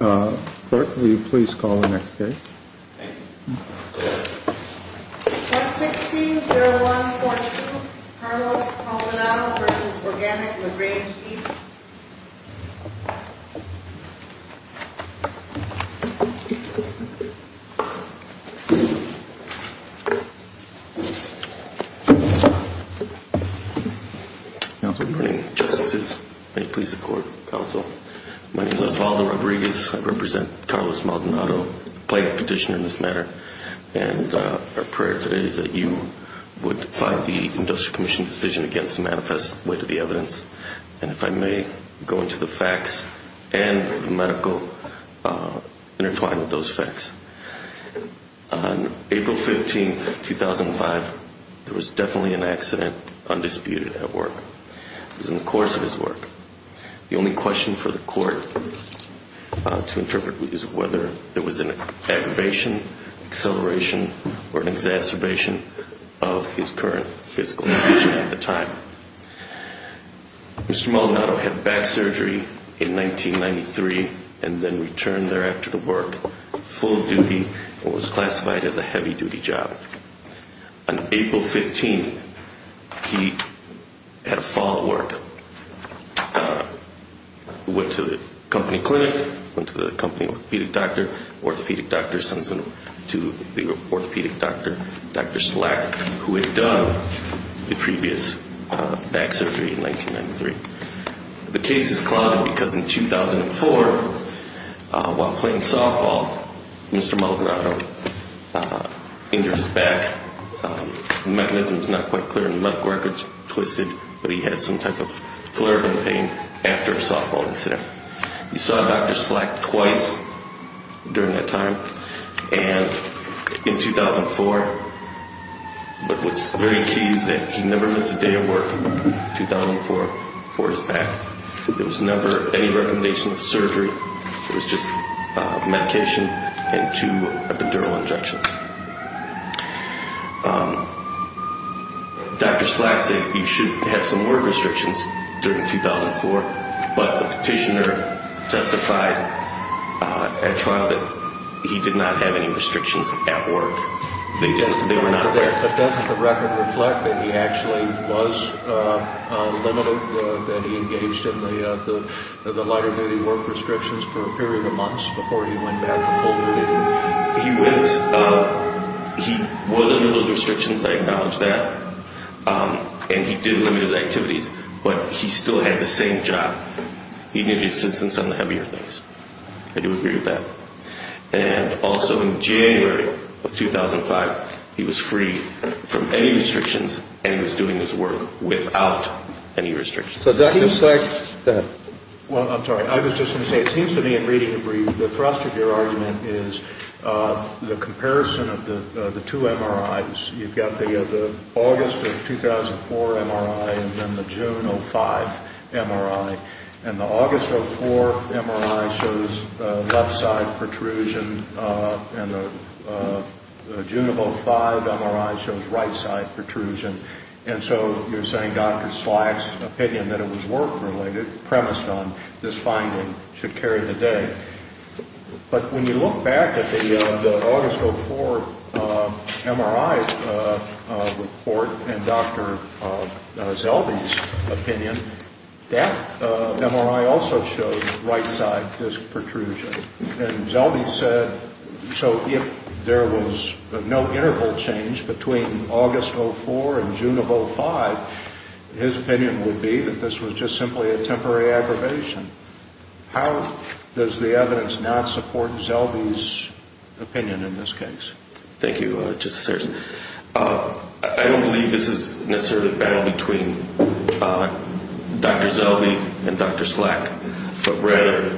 160142 Carlos Maldonado v. Organic LaGrange Eats Good morning Justices. May it please the Court, Counsel. My name is Osvaldo Rodriguez. I represent Carlos Maldonado. I pledged a petition in this matter. And our prayer today is that you would find the Industrial Commission's decision against the manifest with the evidence. And if I may, go into the facts and the medical intertwined with those facts. On April 15, 2005, there was definitely an accident, undisputed, at work. It was in the course of his work. The only question for the Court to interpret is whether there was an aggravation, acceleration, or an exacerbation of his current physical condition at the time. Mr. Maldonado had back surgery in 1993 and then returned thereafter to work, full duty, what was classified as a heavy duty job. On April 15, he had a fall at work, went to the company clinic, went to the company orthopedic doctor, orthopedic doctor sends him to the orthopedic doctor, Dr. Slack, who had done the previous back surgery in 1993. The case is clouded because in 2004, while playing softball, Mr. Maldonado injured his back. The mechanism is not quite clear and the medical records twisted, but he had some type of but what's very key is that he never missed a day of work in 2004 for his back. There was never any recommendation of surgery. It was just medication and two epidural injections. Dr. Slack said you should have some work restrictions during 2004, but the petitioner testified at trial that he did not have any restrictions at work. They were not there. But doesn't the record reflect that he actually was limited, that he engaged in the lighter duty work restrictions for a period of months before he went back to full duty? He was under those restrictions, I acknowledge that, and he did limit his activities, but he still had the same job. He needed assistance on the heavier things. I do agree with that. And also in January of 2005, he was free from any restrictions and he was doing his work without any restrictions. So Dr. Slack, go ahead. Well, I'm sorry. I was just going to say, it seems to me in reading the brief, the thrust of your argument is the comparison of the two MRIs. You've got the August of 2004 MRI and then the June of 2005 MRI. And the August of 2004 MRI shows left-side protrusion and the June of 2005 MRI shows right-side protrusion. And so you're saying Dr. Slack's opinion that it was work-related, this finding should carry the day. But when you look back at the August of 2004 MRI report and Dr. Zelbe's opinion, that MRI also shows right-side disc protrusion. And Zelbe said, so if there was no interval change between August of 2004 and June of 2005, his opinion would be that this was just simply a temporary aggravation. How does the evidence not support Zelbe's opinion in this case? Thank you, Justice Sears. I don't believe this is necessarily a battle between Dr. Zelbe and Dr. Slack. But rather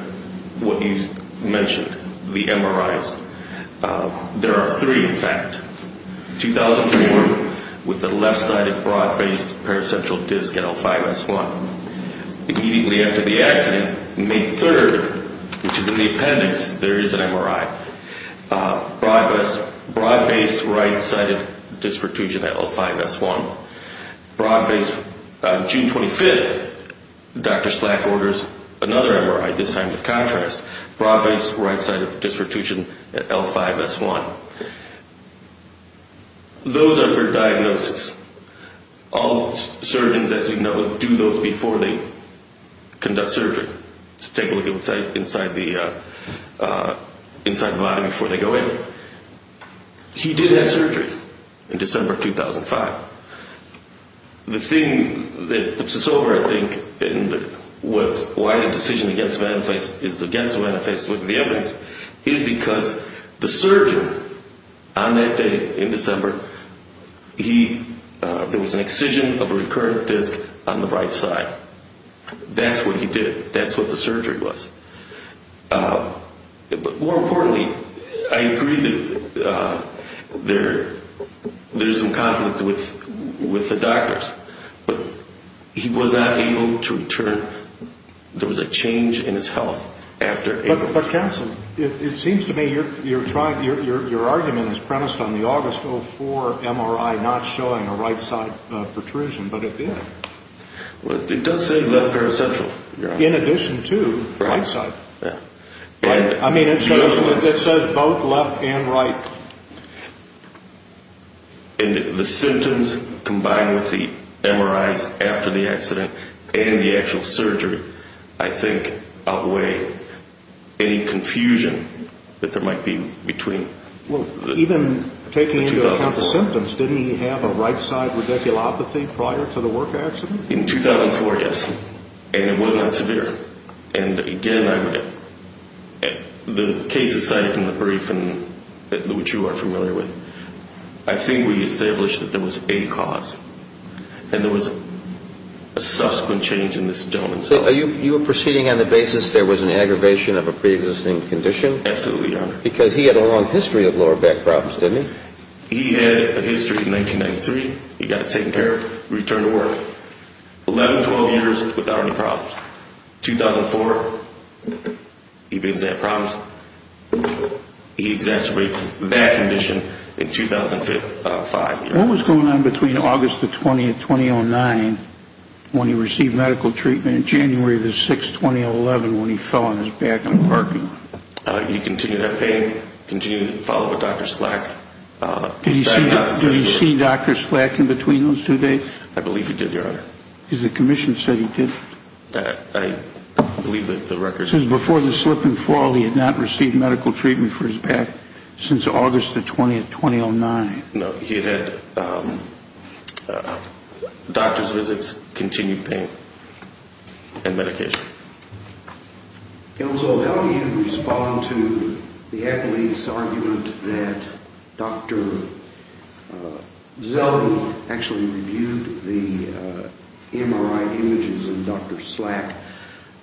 what you mentioned, the MRIs. There are three, in fact. 2004 with the left-sided broad-based paracentral disc at L5-S1. Immediately after the accident, May 3rd, which is in the appendix, there is an MRI. Broad-based right-sided disc protrusion at L5-S1. June 25th, Dr. Slack orders another MRI, this time to contrast. Broad-based right-sided disc protrusion at L5-S1. Those are for diagnosis. All surgeons, as we know, do those before they conduct surgery. Take a look inside the body before they go in. He did have surgery in December of 2005. The thing that puts us over, I think, and why the decision is against the manifest with the evidence is because the surgeon on that day in December, there was an excision of a recurrent disc on the right side. That's what he did. That's what the surgery was. But more importantly, I agree that there's some conflict with the doctors, but he was not able to return. There was a change in his health after... It seems to me your argument is premised on the August 04 MRI not showing a right-side protrusion, but it did. It does say left paracentral. In addition to right-side. Yeah. I mean, it says both left and right. And the symptoms combined with the MRIs after the accident and the actual surgery, I think, outweigh any confusion that there might be between... Well, even taking into account the symptoms, didn't he have a right-side radiculopathy prior to the work accident? In 2004, yes, and it was not severe. And again, the case is cited in the brief, which you are familiar with. I think we established that there was a cause, and there was a subsequent change in this gentleman's health. So you are proceeding on the basis there was an aggravation of a preexisting condition? Absolutely, Your Honor. Because he had a long history of lower back problems, didn't he? He had a history in 1993. He got it taken care of, returned to work. 11, 12 years without any problems. 2004, he begins to have problems. He exacerbates that condition in 2005. What was going on between August the 20th, 2009, when he received medical treatment, and January the 6th, 2011, when he fell on his back in the parking lot? He continued to have pain, continued to follow Dr. Slack. Did he see Dr. Slack in between those two days? I believe he did, Your Honor. Because the commission said he did. I believe that the records... Because before the slip and fall, he had not received medical treatment for his back since August the 20th, 2009. No, he had had doctor's visits, continued pain, and medication. Elzo, how do you respond to the accolades argument that Dr. Zeldin actually reviewed the MRI images and Dr. Slack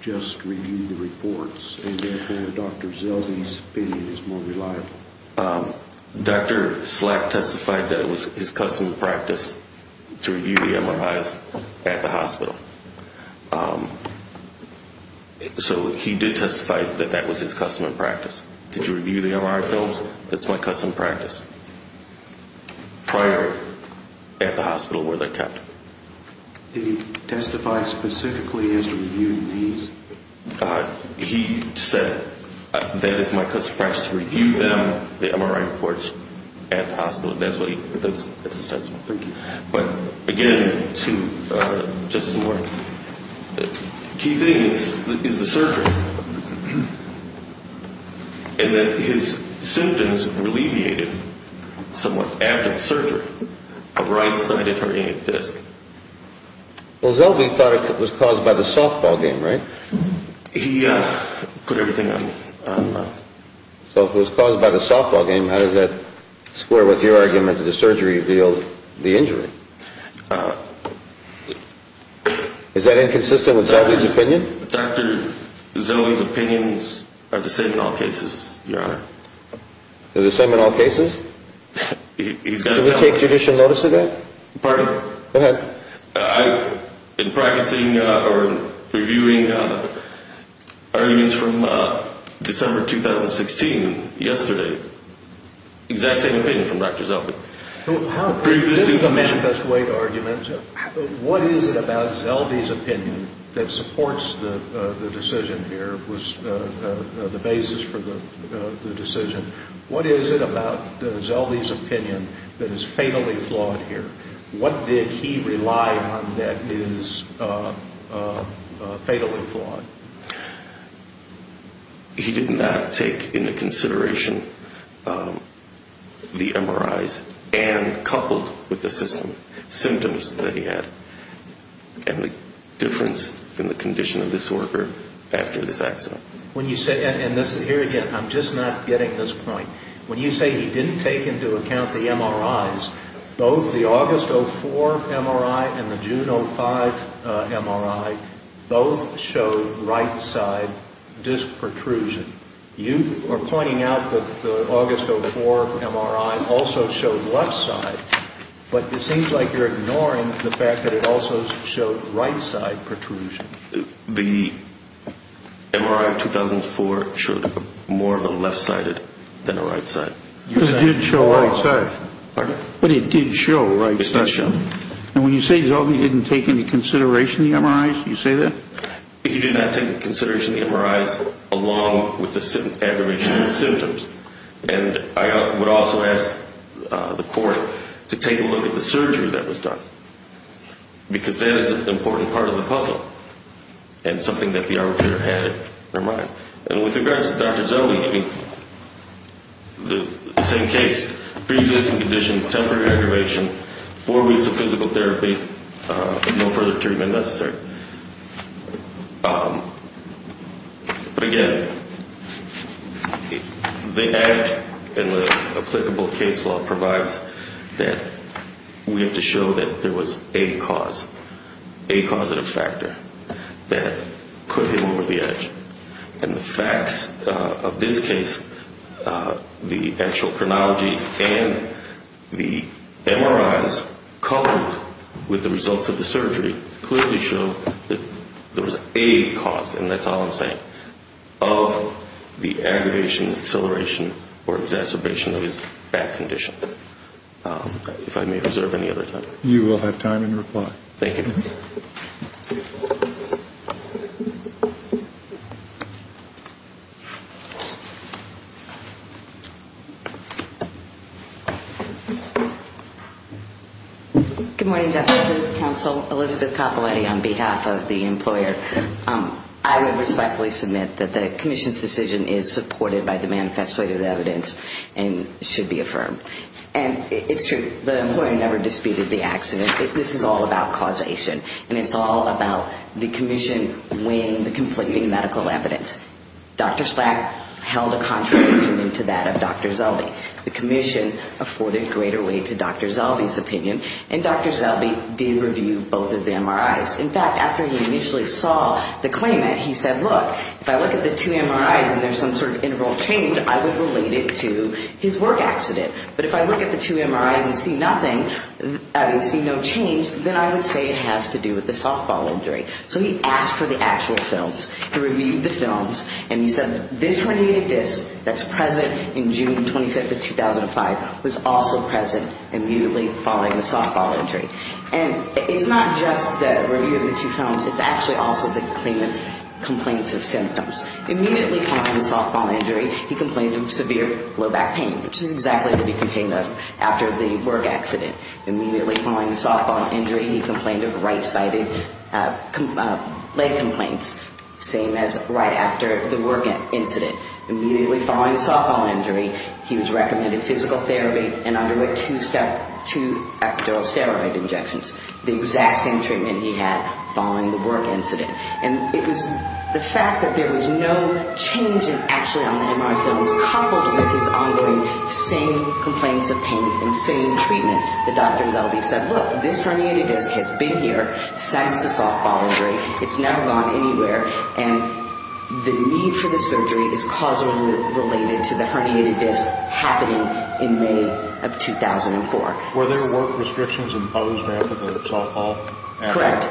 just reviewed the reports, and therefore Dr. Zeldin's opinion is more reliable? Dr. Slack testified that it was his custom practice to review the MRIs at the hospital. So he did testify that that was his custom practice. Did you review the MRI films? That's my custom practice. Prior at the hospital where they're kept. Did he testify specifically as to reviewing these? He said that it's my custom practice to review them, the MRI reports, at the hospital. That's what he... That's his testimony. Thank you. But again, to Justice Moore, the key thing is the surgery. And then his symptoms alleviated somewhat after the surgery, a right-sided herniated disc. Well, Zeldin thought it was caused by the softball game, right? He put everything on me. So if it was caused by the softball game, how does that square with your argument that the surgery revealed the injury? Is that inconsistent with Zeldin's opinion? Dr. Zeldin's opinions are the same in all cases, Your Honor. They're the same in all cases? He's got a... Can we take judicial notice of that? Pardon? Go ahead. In practicing or reviewing arguments from December 2016, yesterday, exact same opinion from Dr. Zeldin. This is a manifest way to argument. What is it about Zeldin's opinion that supports the decision here, was the basis for the decision? What is it about Zeldin's opinion that is fatally flawed here? What did he rely on that is fatally flawed? He did not take into consideration the MRIs and coupled with the symptoms that he had and the difference in the condition of this worker after this accident. And here again, I'm just not getting this point. When you say he didn't take into account the MRIs, both the August 2004 MRI and the June 2005 MRI, both showed right side disc protrusion. You are pointing out that the August 2004 MRI also showed left side, but it seems like you're ignoring the fact that it also showed right side protrusion. The MRI of 2004 showed more of a left-sided than a right-sided. It did show right side. Pardon? But it did show right side. It's not shown. And when you say Zeldin didn't take into consideration the MRIs, you say that? He did not take into consideration the MRIs along with the aboriginal symptoms. And I would also ask the court to take a look at the surgery that was done because that is an important part of the puzzle and something that the arbitrator had in their mind. And with regards to Dr. Zeldin, the same case, preexisting condition, temporary aggravation, four weeks of physical therapy, no further treatment necessary. But, again, the ad and the applicable case law provides that we have to show that there was a cause, a causative factor that could hit over the edge. And the facts of this case, the actual chronology and the MRIs coupled with the results of the surgery, clearly show that there was a cause, and that's all I'm saying, of the aggravation, acceleration, or exacerbation of his back condition. If I may reserve any other time. You will have time in reply. Thank you. Good morning, Justice. This is Counsel Elizabeth Coppoletti on behalf of the employer. I would respectfully submit that the commission's decision is supported by the manifesto of the evidence and should be affirmed. And it's true, the employer never disputed the accident. This is all about causation. And it's all about the commission weighing the conflicting medical evidence. Dr. Slack held a contrary opinion to that of Dr. Zelby. The commission afforded greater weight to Dr. Zelby's opinion, and Dr. Zelby did review both of the MRIs. In fact, after he initially saw the claimant, he said, look, if I look at the two MRIs and there's some sort of integral change, I would relate it to his work accident. But if I look at the two MRIs and see nothing, see no change, then I would say it has to do with the softball injury. So he asked for the actual films. He reviewed the films, and he said that this herniated disc that's present in June 25th of 2005 was also present immediately following the softball injury. And it's not just the review of the two films. It's actually also the claimant's complaints of symptoms. Immediately following the softball injury, he complained of severe low back pain, which is exactly what he became of after the work accident. Immediately following the softball injury, he complained of right-sided leg complaints, same as right after the work incident. Immediately following the softball injury, he was recommended physical therapy and underwent two epidural steroid injections, the exact same treatment he had following the work incident. And it was the fact that there was no change actually on the MRI films, coupled with his ongoing same complaints of pain and same treatment, that Dr. Gelby said, look, this herniated disc has been here since the softball injury. It's never gone anywhere. And the need for the surgery is causally related to the herniated disc happening in May of 2004. Were there work restrictions imposed after the softball accident? Correct.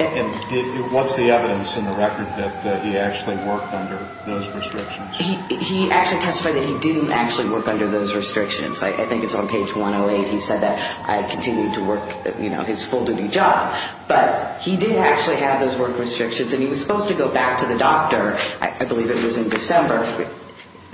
And what's the evidence in the record that he actually worked under those restrictions? He actually testified that he didn't actually work under those restrictions. I think it's on page 108. He said that I continued to work, you know, his full-duty job. But he did actually have those work restrictions, and he was supposed to go back to the doctor, I believe it was in December,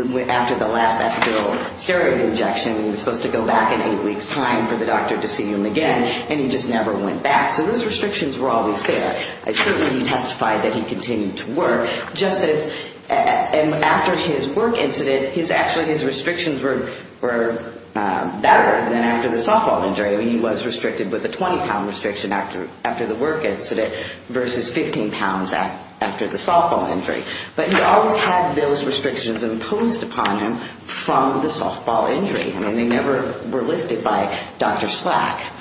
after the last epidural steroid injection. He was supposed to go back in eight weeks' time for the doctor to see him again, and he just never went back. So those restrictions were always there. Certainly he testified that he continued to work, just as after his work incident, actually his restrictions were better than after the softball injury. I mean, he was restricted with a 20-pound restriction after the work incident versus 15 pounds after the softball injury. But he always had those restrictions imposed upon him from the softball injury. I mean, they never were lifted by Dr. Slack.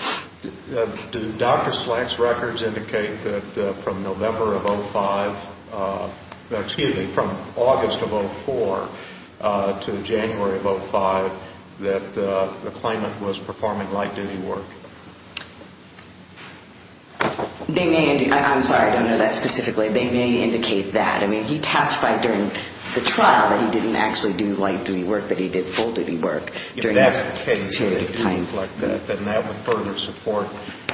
Do Dr. Slack's records indicate that from November of 2005, excuse me, from August of 2004 to January of 2005, that the claimant was performing light-duty work? I'm sorry, I don't know that specifically. They may indicate that. I mean, he testified during the trial that he didn't actually do light-duty work, that he did full-duty work during that period of time. I don't recollect that. And that would further support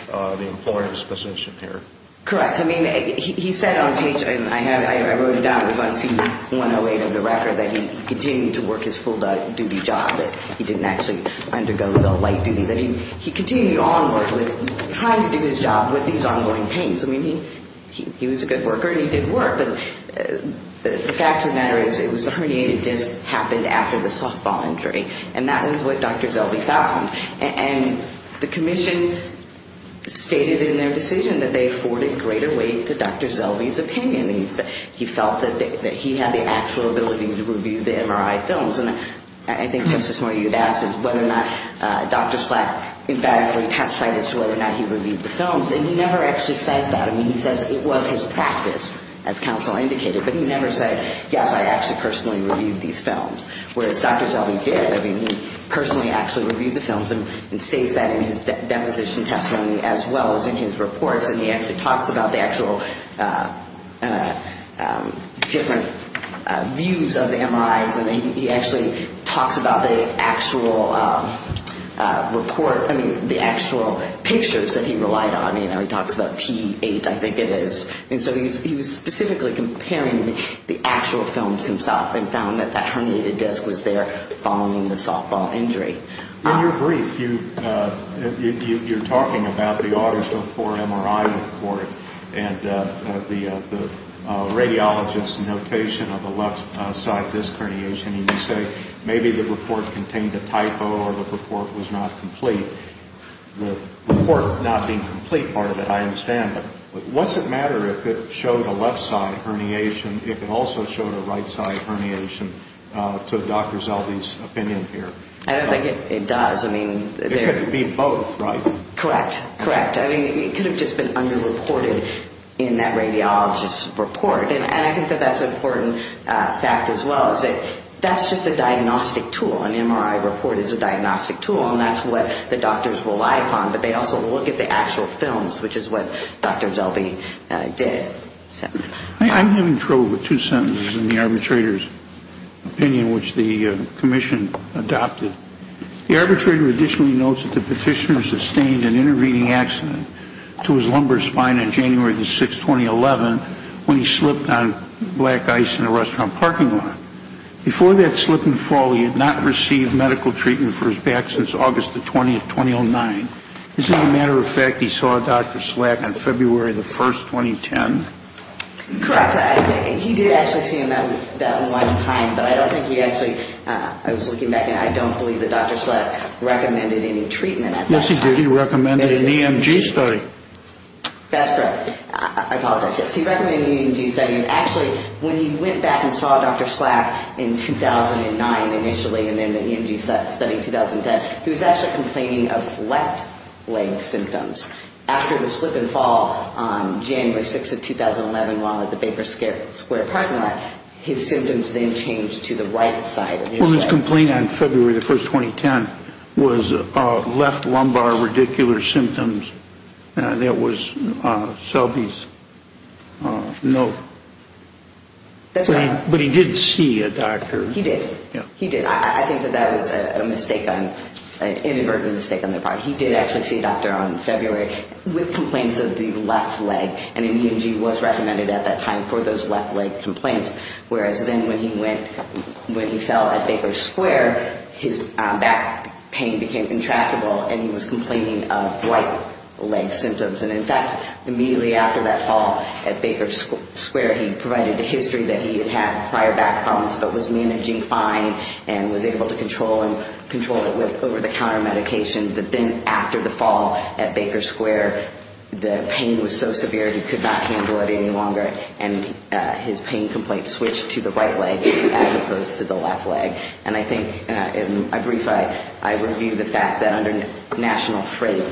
the employer's position here. Correct. I mean, he said on page, I wrote it down, it was on C-108 of the record, that he continued to work his full-duty job, that he didn't actually undergo the light-duty, that he continued on working, trying to do his job with these ongoing pains. I mean, he was a good worker and he did work. But the fact of the matter is it was a herniated disc happened after the softball injury, and that was what Dr. Zellwey found. And the commission stated in their decision that they afforded greater weight to Dr. Zellwey's opinion. He felt that he had the actual ability to review the MRI films. And I think Justice Moyad asked whether or not Dr. Slatt, in fact, testified as to whether or not he reviewed the films. And he never actually says that. I mean, he says it was his practice, as counsel indicated, but he never said, yes, I actually personally reviewed these films. Whereas Dr. Zellwey did. I mean, he personally actually reviewed the films and states that in his deposition testimony as well as in his reports. And he actually talks about the actual different views of the MRIs. I mean, he actually talks about the actual report, I mean, the actual pictures that he relied on. He talks about T8, I think it is. And so he was specifically comparing the actual films himself and found that that herniated disc was there following the softball injury. In your brief, you're talking about the August of 4 MRI report and the radiologist's notation of the left side disc herniation. And you say maybe the report contained a typo or the report was not complete. The report not being complete part of it, I understand. What's it matter if it showed a left side herniation, if it also showed a right side herniation to Dr. Zellwey's opinion here? I don't think it does. It could be both, right? Correct. Correct. I mean, it could have just been underreported in that radiologist's report. And I think that that's an important fact as well, is that that's just a diagnostic tool. An MRI report is a diagnostic tool, and that's what the doctors rely upon. But they also look at the actual films, which is what Dr. Zellwey did. I'm having trouble with two sentences in the arbitrator's opinion, which the commission adopted. The arbitrator additionally notes that the petitioner sustained an intervening accident to his lumbar spine on January 6, 2011, when he slipped on black ice in a restaurant parking lot. Before that slip and fall, he had not received medical treatment for his back since August 20, 2009. Is it a matter of fact he saw Dr. Slack on February 1, 2010? Correct. He did actually see him that one time, but I don't think he actually, I was looking back, and I don't believe that Dr. Slack recommended any treatment at that point. Yes, he did. He recommended an EMG study. That's correct. I apologize. Yes, he recommended an EMG study. And actually, when he went back and saw Dr. Slack in 2009 initially, and then the EMG study in 2010, he was actually complaining of left leg symptoms. After the slip and fall on January 6, 2011, while at the Baker Square parking lot, his symptoms then changed to the right side of his leg. Well, his complaint on February 1, 2010 was left lumbar radicular symptoms. That was Selby's note. That's right. But he did see a doctor. He did. He did. I think that that was an inadvertent mistake on their part. He did actually see a doctor on February with complaints of the left leg, and an EMG was recommended at that time for those left leg complaints, whereas then when he fell at Baker Square, his back pain became intractable, and he was complaining of right leg symptoms. And, in fact, immediately after that fall at Baker Square, he provided the history that he had had prior back problems but was managing fine and was able to control it with over-the-counter medication. But then after the fall at Baker Square, the pain was so severe he could not handle it any longer, and his pain complaint switched to the right leg as opposed to the left leg. And I think, in a brief, I review the fact that under national frame,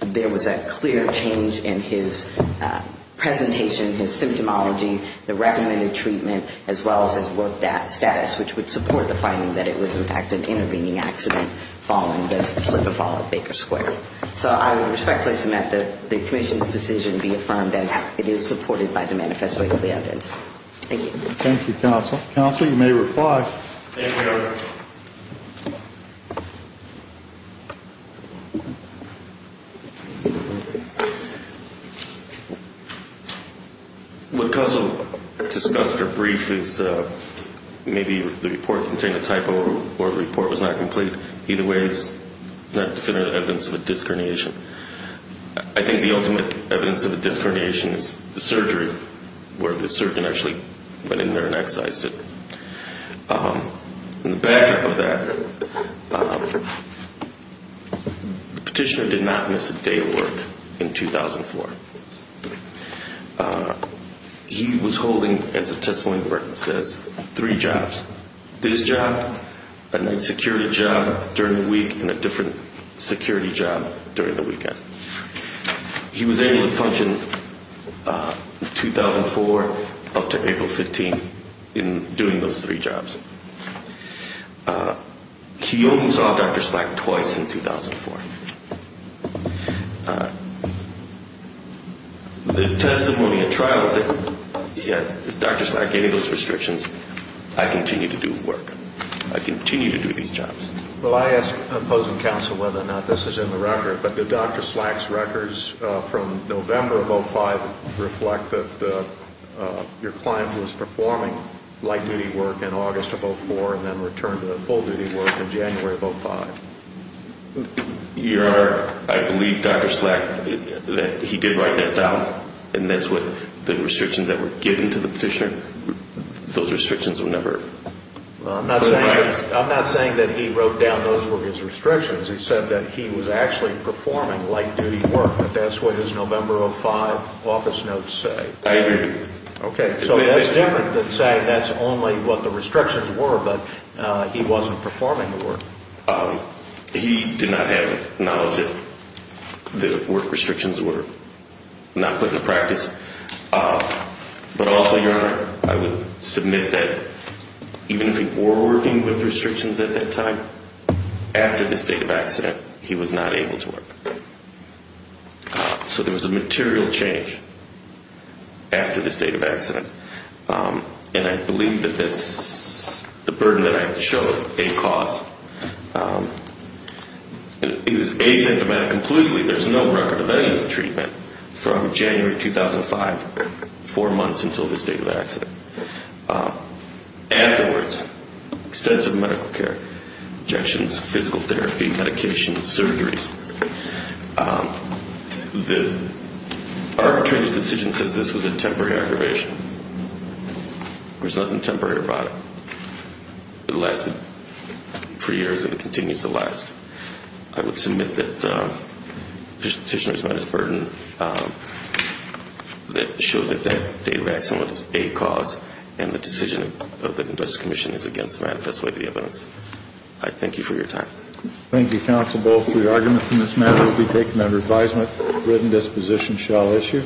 there was a clear change in his presentation, his symptomology, the recommended treatment, as well as his worked-out status, which would support the finding that it was, in fact, an intervening accident following the fall at Baker Square. So I would respectfully submit that the commission's decision be affirmed as it is supported by the manifesto of the evidence. Thank you. Thank you, Counsel. Counsel, you may reply. Thank you. What Counsel discussed or briefed is maybe the report contained a typo or the report was not complete. Either way, it's not definitive evidence of a disc herniation. I think the ultimate evidence of a disc herniation is the surgery, where the surgeon actually went in there and excised it. In the back of that, the petitioner did not miss a day of work in 2004. He was holding, as the testimony record says, three jobs, this job, a night security job during the week, and a different security job during the weekend. He was able to function 2004 up to April 15 in doing those three jobs. He only saw Dr. Slack twice in 2004. The testimony at trial said, yeah, it's Dr. Slack getting those restrictions. I continue to do work. I continue to do these jobs. Well, I ask opposing counsel whether or not this is in the record, but did Dr. Slack's records from November of 2005 reflect that your client was performing light duty work in August of 2004 and then returned to full duty work in January of 2005? Your Honor, I believe Dr. Slack, that he did write that down, and that's what the restrictions that were given to the petitioner, those restrictions were never put in place. I'm not saying that he wrote down those were his restrictions. He said that he was actually performing light duty work, but that's what his November of 2005 office notes say. I agree. Okay. So that's different than saying that's only what the restrictions were, but he wasn't performing the work. He did not have knowledge that the work restrictions were not put into practice. But also, Your Honor, I would submit that even if he were working with restrictions at that time, after the state of accident, he was not able to work. So there was a material change after the state of accident, and I believe that that's the burden that I have to show a cause. He was asymptomatic completely. There's no record of any of the treatment from January 2005, four months until the state of accident. Afterwards, extensive medical care, injections, physical therapy, medication, surgeries. The arbitrator's decision says this was a temporary aggravation. There's nothing temporary about it. It lasted three years, and it continues to last. I would submit that the petitioner has met his burden. It shows that that day of accident is a cause, and the decision of the Justice Commission is against the manifest way of the evidence. I thank you for your time. Thank you, counsel. Both of the arguments in this matter will be taken under advisement. Written disposition shall issue.